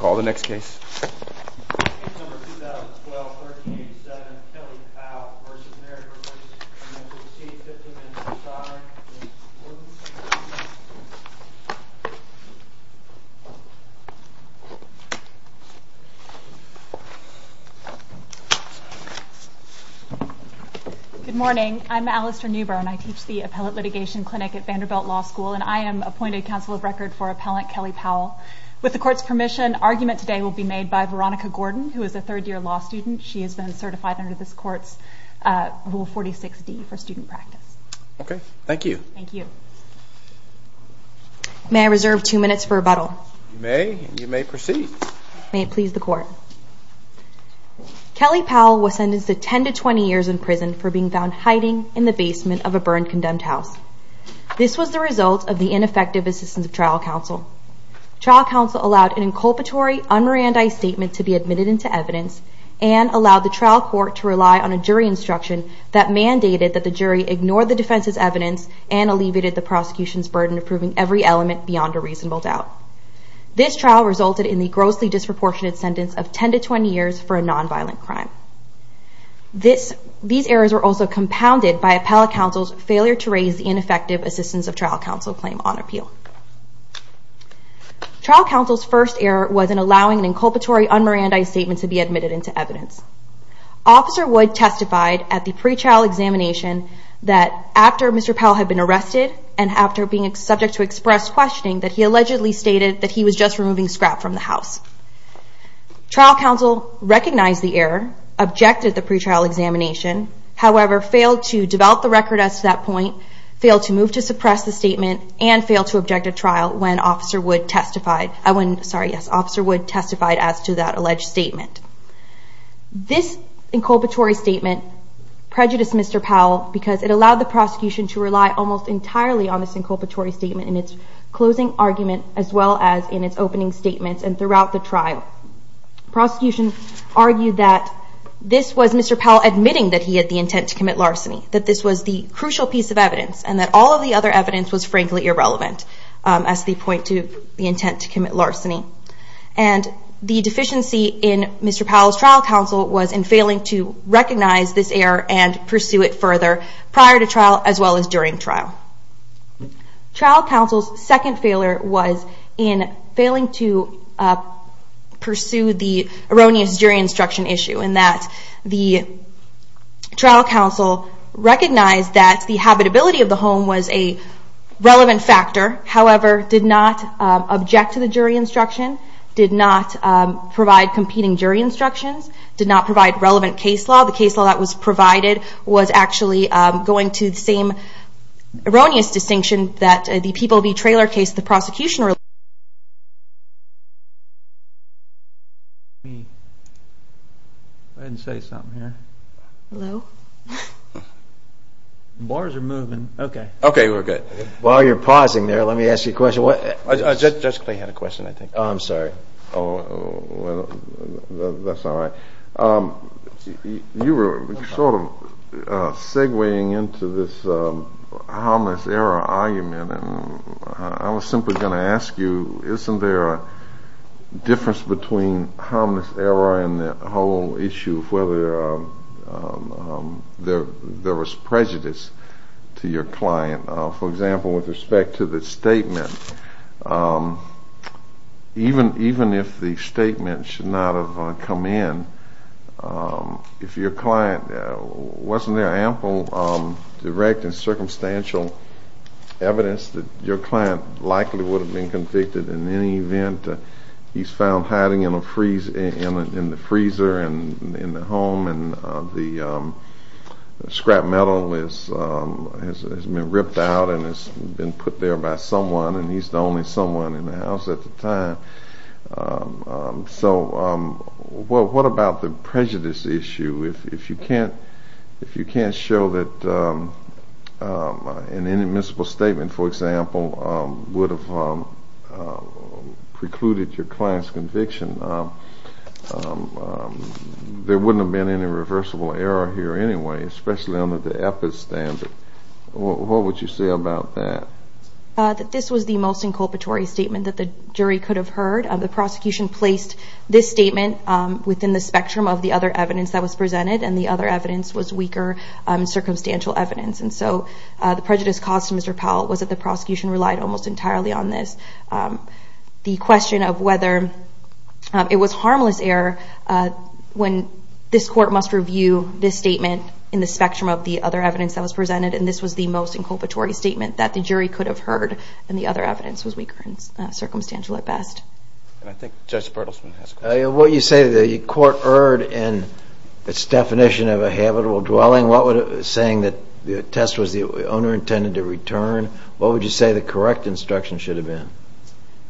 Good morning. I'm Alistair Newburn. I teach the Appellate Litigation Clinic at Vanderbilt Law School, and I am appointed Counsel of Record for Appellant Kelly Powell. With the Court's permission, argument today will be made by Veronica Gordon, who is a third-year law student. She has been certified under this Court's Rule 46D for student practice. Okay. Thank you. Thank you. May I reserve two minutes for rebuttal? You may, and you may proceed. May it please the Court. Kelly Powell was sentenced to 10 to 20 years in prison for being found hiding in the basement of a burned, condemned house. This was the result of the ineffective assistance of trial counsel. Trial counsel allowed an inculpatory, un-Mirandi statement to be admitted into evidence and allowed the trial court to rely on a jury instruction that mandated that the jury ignore the defense's evidence and alleviated the prosecution's burden of proving every element beyond a reasonable doubt. This trial resulted in the grossly disproportionate sentence of 10 to 20 years for a non-violent crime. These errors were also compounded by appellate counsel's failure to raise the ineffective assistance of trial counsel claim on appeal. Trial counsel's first error was in allowing an inculpatory, un-Mirandi statement to be admitted into evidence. Officer Wood testified at the pre-trial examination that after Mr. Powell had been arrested and after being subject to expressed questioning that he allegedly stated that he was just removing scrap from the house. Trial counsel recognized the error, objected the pre-trial examination, however, failed to develop the record as to that point, failed to move to suppress the statement, and failed to object at trial when Officer Wood testified as to that alleged statement. This inculpatory statement prejudiced Mr. Powell because it allowed the prosecution to rely almost entirely on this inculpatory statement in its closing argument as well as in its opening statements and throughout the trial. Prosecution argued that this was Mr. Powell admitting that he had the intent to commit larceny, that this was the crucial piece of evidence, and that all of the other evidence was frankly irrelevant as they point to the intent to commit larceny. And the deficiency in Mr. Powell's trial counsel was in failing to recognize this error and pursue it further prior to trial as well as during trial. Trial counsel's second failure was in failing to pursue the erroneous jury instruction issue in that the trial counsel recognized that the habitability of the home was a relevant factor, however, did not object to the jury instruction, did not provide competing jury instructions, did not provide relevant case law. The case law that was provided was actually going to the same erroneous distinction that the People v. Trailer case the prosecution relied on. Go ahead and say something here. Hello. Bars are moving. Okay. Okay, we're good. While you're pausing there, let me ask you a question. Judge Clay had a question, I think. Oh, I'm sorry. That's all right. You were sort of segueing into this harmless error argument, and I was simply going to ask you, isn't there a difference between harmless error and the whole issue of whether there was prejudice to your client? For example, with respect to the statement, even if the statement should not have come in, if your client wasn't there ample direct and circumstantial evidence that your client likely would have been convicted in any event, he's found hiding in the freezer in the home, and the scrap metal has been ripped out and has been put there by someone, and he's the only someone in the house at the time. So what about the prejudice issue? If you can't show that an inadmissible statement, for example, would have precluded your client's conviction, there wouldn't have been any reversible error here anyway, especially under the EPIS standard. What would you say about that? This was the most inculpatory statement that the jury could have heard. The prosecution placed this statement within the spectrum of the other evidence that was presented, and the other evidence was weaker circumstantial evidence. And so the prejudice caused, Mr. Powell, was that the prosecution relied almost entirely on this. The question of whether it was harmless error when this court must review this statement in the spectrum of the other evidence that was presented, and this was the most inculpatory statement that the jury could have heard, and the other evidence was weaker circumstantial at best. And I think Judge Bertelsman has a question. When you say the court erred in its definition of a habitable dwelling, saying that the test was the owner intended to return, what would you say the correct instruction should have been?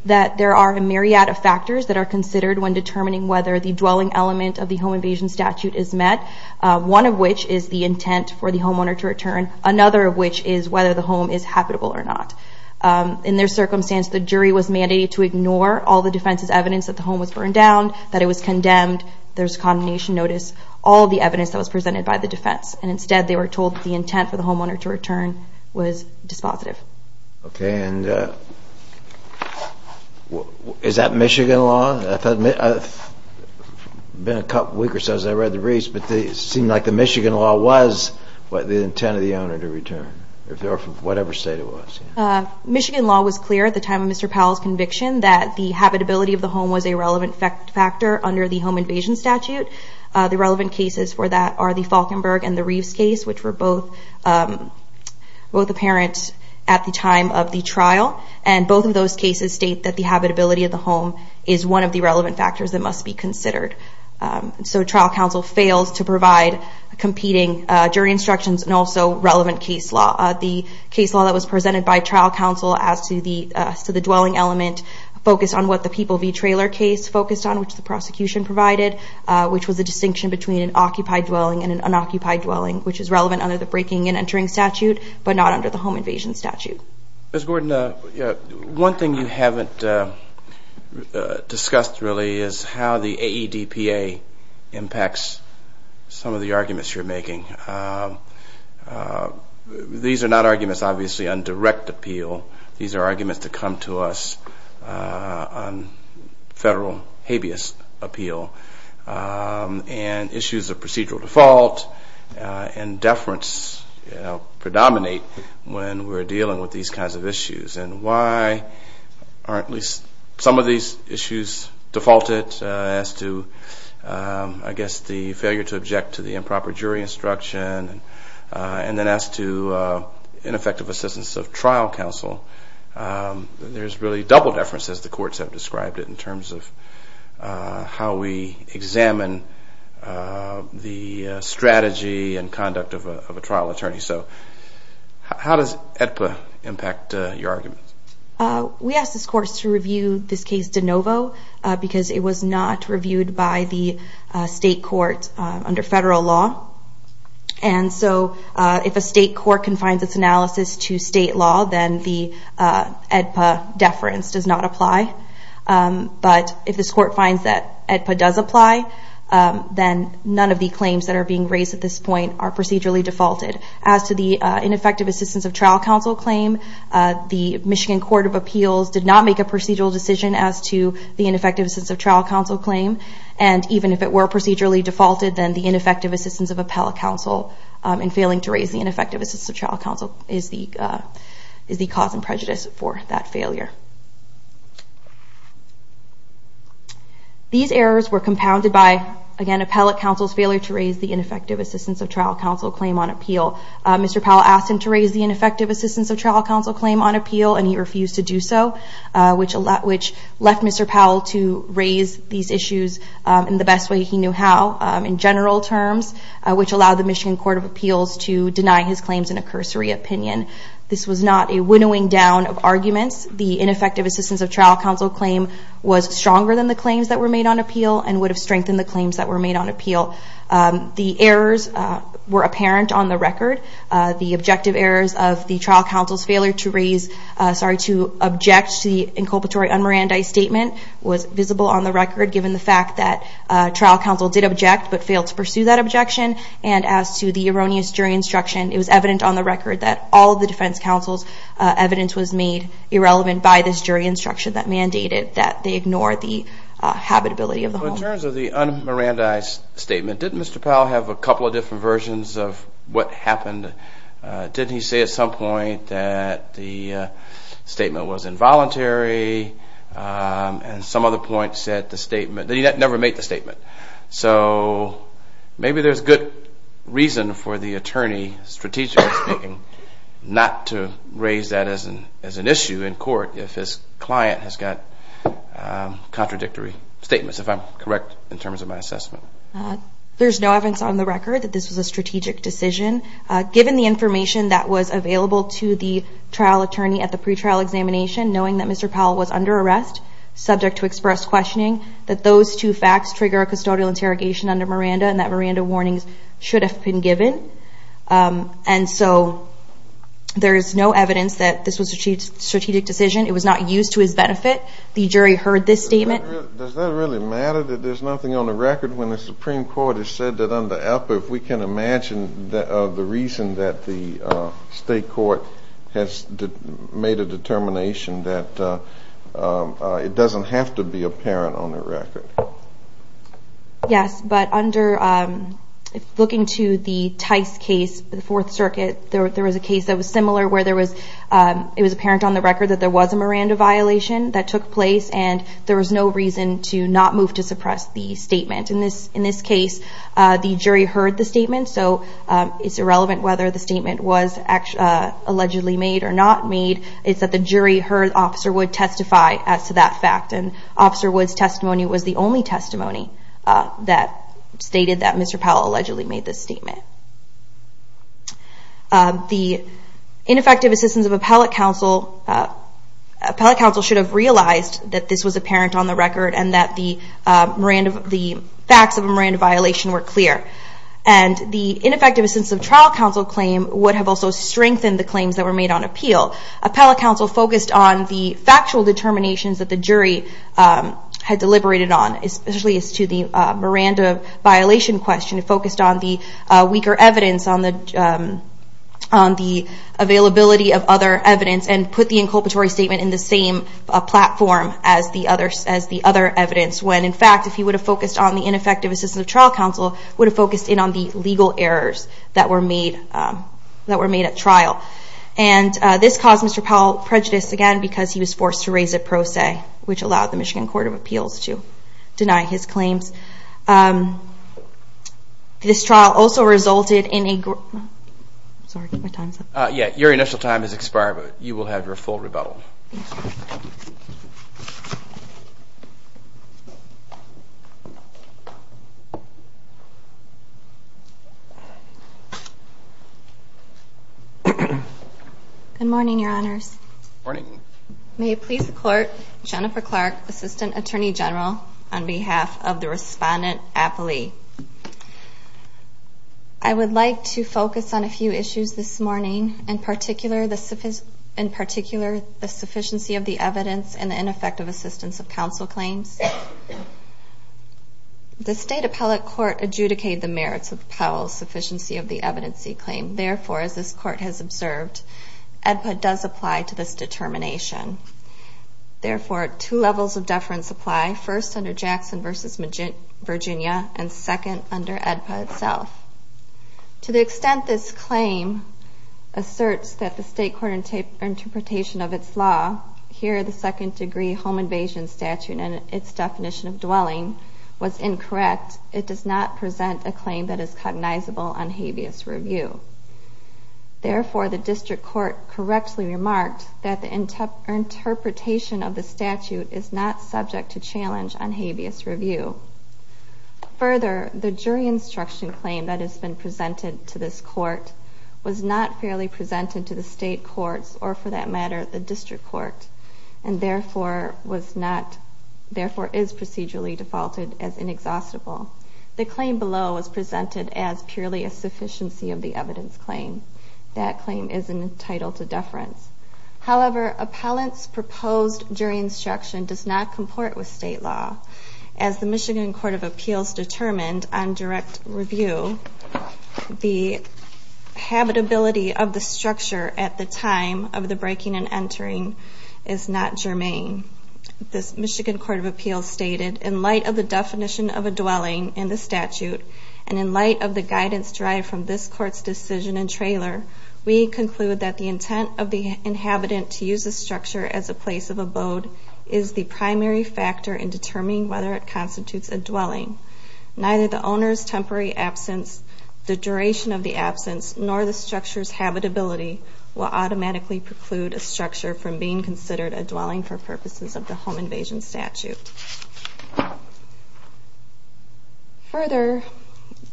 That there are a myriad of factors that are considered when determining whether the dwelling element of the home invasion statute is met, one of which is the intent for the homeowner to return, another of which is whether the home is habitable or not. In their circumstance, the jury was mandated to ignore all the defense's evidence that the home was burned down, that it was condemned, there's a condemnation notice, all the evidence that was presented by the defense. And instead, they were told that the intent for the homeowner to return was dispositive. Okay, and is that Michigan law? I've been a week or so since I read the briefs, but it seemed like the Michigan law was the intent of the owner to return, if they were from whatever state it was. Michigan law was clear at the time of Mr. Powell's conviction that the habitability of the home was a relevant factor under the home invasion statute. The relevant cases for that are the Falkenberg and the Reeves case, which were both apparent at the time of the trial. And both of those cases state that the habitability of the home is one of the relevant factors that must be considered. So trial counsel fails to provide competing jury instructions and also relevant case law. The case law that was presented by trial counsel as to the dwelling element focused on what the People v. Trailer case focused on, which the prosecution provided, which was the distinction between an occupied dwelling and an unoccupied dwelling, which is relevant under the breaking and entering statute, but not under the home invasion statute. Ms. Gordon, one thing you haven't discussed really is how the AEDPA impacts some of the arguments you're making. These are not arguments, obviously, on direct appeal. These are arguments that come to us on federal habeas appeal and issues of procedural default and deference predominate when we're dealing with these kinds of issues. And why are at least some of these issues defaulted as to, I guess, the failure to object to the improper jury instruction, and then as to ineffective assistance of trial counsel, there's really double deference, as the courts have described it, in terms of how we examine the strategy and conduct of a trial attorney. So how does AEDPA impact your arguments? We asked this court to review this case de novo because it was not reviewed by the state court under federal law. And so if a state court confines its analysis to state law, then the AEDPA deference does not apply. But if this court finds that AEDPA does apply, then none of the claims that are being raised at this point are procedurally defaulted. As to the ineffective assistance of trial counsel claim, the Michigan Court of Appeals did not make a procedural decision as to the ineffective assistance of trial counsel claim. And even if it were procedurally defaulted, then the ineffective assistance of appellate counsel in failing to raise the ineffective assistance of trial counsel is the cause and prejudice for that failure. These errors were compounded by, again, appellate counsel's failure to raise the ineffective assistance of trial counsel claim on appeal. Mr. Powell asked him to raise the ineffective assistance of trial counsel claim on appeal, and he refused to do so, which left Mr. Powell to raise these issues in the best way he knew how, in general terms, which allowed the Michigan Court of Appeals to deny his claims in a cursory opinion. This was not a winnowing down of arguments. The ineffective assistance of trial counsel claim was stronger than the claims that were made on appeal and would have strengthened the claims that were made on appeal. The errors were apparent on the record. The objective errors of the trial counsel's failure to object to the inculpatory unmirandized statement was visible on the record, given the fact that trial counsel did object but failed to pursue that objection. And as to the erroneous jury instruction, it was evident on the record that all of the defense counsel's evidence was made irrelevant by this jury instruction that mandated that they ignore the habitability of the home. In terms of the unmirandized statement, did Mr. Powell have a couple of different versions of what happened? Did he say at some point that the statement was involuntary and some other point said the statement... But he never made the statement. So maybe there's good reason for the attorney, strategically speaking, not to raise that as an issue in court if his client has got contradictory statements, if I'm correct in terms of my assessment. There's no evidence on the record that this was a strategic decision. Given the information that was available to the trial attorney at the pretrial examination, knowing that Mr. Powell was under arrest, subject to express questioning, that those two facts trigger a custodial interrogation under Miranda and that Miranda warnings should have been given. And so there is no evidence that this was a strategic decision. It was not used to his benefit. The jury heard this statement. Does that really matter that there's nothing on the record when the Supreme Court has said that If we can imagine the reason that the state court has made a determination that it doesn't have to be apparent on the record. Yes, but under looking to the Tice case, the Fourth Circuit, there was a case that was similar where there was it was apparent on the record that there was a Miranda violation that took place and there was no reason to not move to suppress the statement. In this case, the jury heard the statement. So it's irrelevant whether the statement was allegedly made or not made. It's that the jury heard Officer Wood testify as to that fact. And Officer Wood's testimony was the only testimony that stated that Mr. Powell allegedly made this statement. The ineffective assistance of appellate counsel, appellate counsel should have realized that this was apparent on the record and that the facts of a Miranda violation were clear. And the ineffective assistance of trial counsel claim would have also strengthened the claims that were made on appeal. Appellate counsel focused on the factual determinations that the jury had deliberated on, especially as to the Miranda violation question. It focused on the weaker evidence, on the availability of other evidence, and put the inculpatory statement in the same platform as the other evidence. When, in fact, if he would have focused on the ineffective assistance of trial counsel, he would have focused in on the legal errors that were made at trial. And this caused Mr. Powell prejudice again because he was forced to raise a pro se, which allowed the Michigan Court of Appeals to deny his claims. This trial also resulted in a... Sorry, my time's up. Yeah, your initial time has expired, but you will have your full rebuttal. Thank you. Good morning, Your Honors. Good morning. May it please the Court, Jennifer Clark, Assistant Attorney General, on behalf of the respondent appellee. I would like to focus on a few issues this morning, in particular the sufficiency of the evidence and the ineffective assistance of counsel claims. The State Appellate Court adjudicated the merits of Powell's sufficiency of the evidence he claimed. Therefore, as this Court has observed, EDPA does apply to this determination. Therefore, two levels of deference apply, first under Jackson v. Virginia and second under EDPA itself. To the extent this claim asserts that the State Court interpretation of its law, here the second degree home invasion statute and its definition of dwelling, was incorrect, it does not present a claim that is cognizable on habeas review. Therefore, the District Court correctly remarked that the interpretation of the statute is not subject to challenge on habeas review. Further, the jury instruction claim that has been presented to this Court was not fairly presented to the State Courts or, for that matter, the District Court, and therefore is procedurally defaulted as inexhaustible. The claim below was presented as purely a sufficiency of the evidence claim. That claim is entitled to deference. However, appellant's proposed jury instruction does not comport with State law. As the Michigan Court of Appeals determined on direct review, the habitability of the structure at the time of the breaking and entering is not germane. The Michigan Court of Appeals stated, in light of the definition of a dwelling in the statute and in light of the guidance derived from this Court's decision and trailer, we conclude that the intent of the inhabitant to use the structure as a place of abode is the primary factor in determining whether it constitutes a dwelling. Neither the owner's temporary absence, the duration of the absence, nor the structure's habitability will automatically preclude a structure from being considered a dwelling for purposes of the home invasion statute. Further,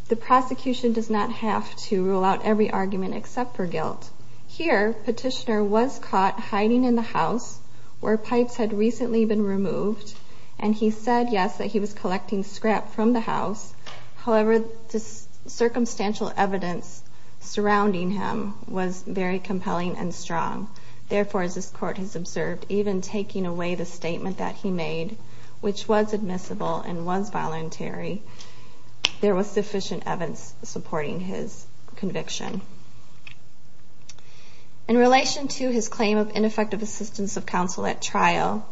the prosecution does not have to rule out every argument except for guilt. Here, petitioner was caught hiding in the house where pipes had recently been removed, and he said, yes, that he was collecting scrap from the house. However, the circumstantial evidence surrounding him was very compelling and strong. Therefore, as this Court has observed, even taking away the statement that he made, which was admissible and was voluntary, there was sufficient evidence supporting his conviction. In relation to his claim of ineffective assistance of counsel at trial,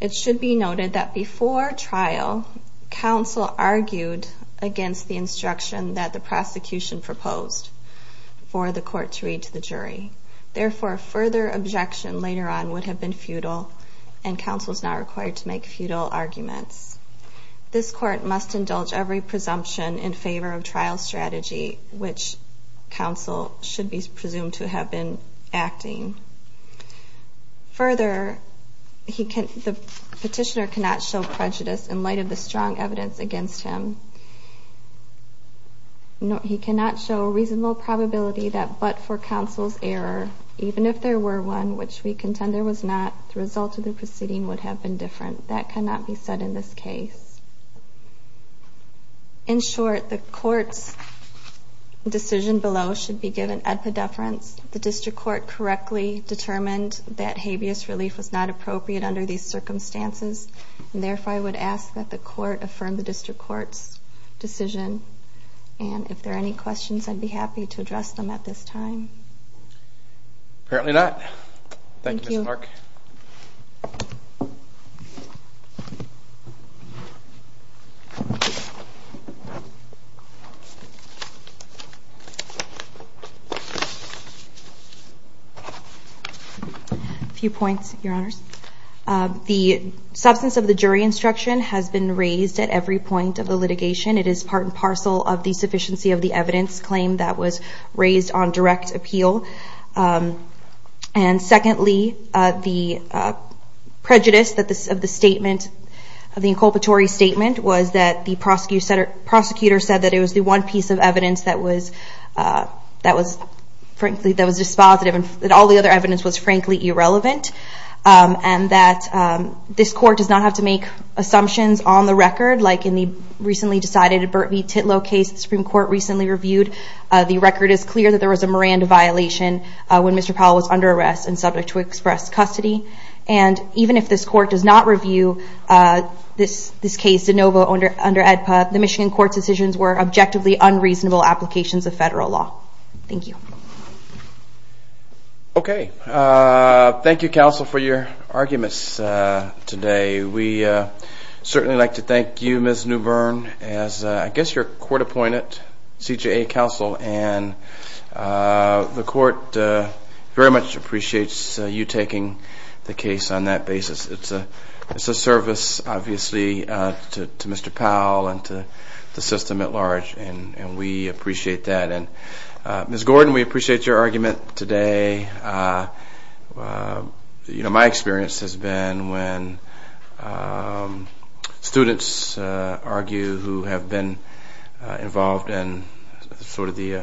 it should be noted that before trial, counsel argued against the instruction that the prosecution proposed for the court to read to the jury. Therefore, further objection later on would have been futile, and counsel is not required to make futile arguments. This Court must indulge every presumption in favor of trial strategy, which counsel should be presumed to have been acting. Further, the petitioner cannot show prejudice in light of the strong evidence against him. He cannot show a reasonable probability that but for counsel's error, even if there were one which we contend there was not, the result of the proceeding would have been different. That cannot be said in this case. In short, the Court's decision below should be given ad pediferance. The District Court correctly determined that habeas relief was not appropriate under these circumstances, and therefore I would ask that the Court affirm the District Court's decision. And if there are any questions, I'd be happy to address them at this time. Apparently not. Thank you, Mr. Mark. A few points, Your Honors. The substance of the jury instruction has been raised at every point of the litigation. It is part and parcel of the sufficiency of the evidence claim that was raised on direct appeal. And secondly, the prejudice of the inculpatory statement was that the prosecutor said that it was the one piece of evidence that was frankly dispositive and that all the other evidence was frankly irrelevant. And that this Court does not have to make assumptions on the record, like in the recently decided Burt v. Titlow case the Supreme Court recently reviewed. The record is clear that there was a Miranda violation when Mr. Powell was under arrest and subject to express custody. And even if this Court does not review this case, DeNovo under AEDPA, the Michigan Court's decisions were objectively unreasonable applications of federal law. Thank you. Okay. Thank you, Counsel, for your arguments today. We certainly would like to thank you, Ms. Newbern, as I guess your court-appointed CJA Counsel, and the Court very much appreciates you taking the case on that basis. It's a service, obviously, to Mr. Powell and to the system at large, and we appreciate that. Ms. Gordon, we appreciate your argument today. My experience has been when students argue who have been involved in sort of the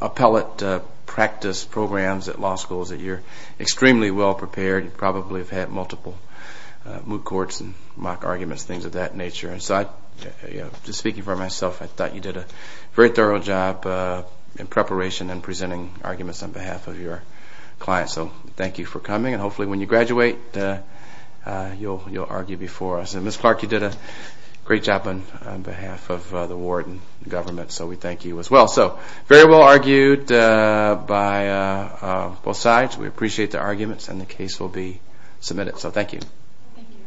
appellate practice programs at law schools, that you're extremely well-prepared. You probably have had multiple moot courts and mock arguments, things of that nature. So just speaking for myself, I thought you did a very thorough job in preparation and presenting arguments on behalf of your clients. So thank you for coming, and hopefully when you graduate, you'll argue before us. And Ms. Clark, you did a great job on behalf of the ward and government, so we thank you as well. So very well argued by both sides. We appreciate the arguments, and the case will be submitted. So thank you. Thank you.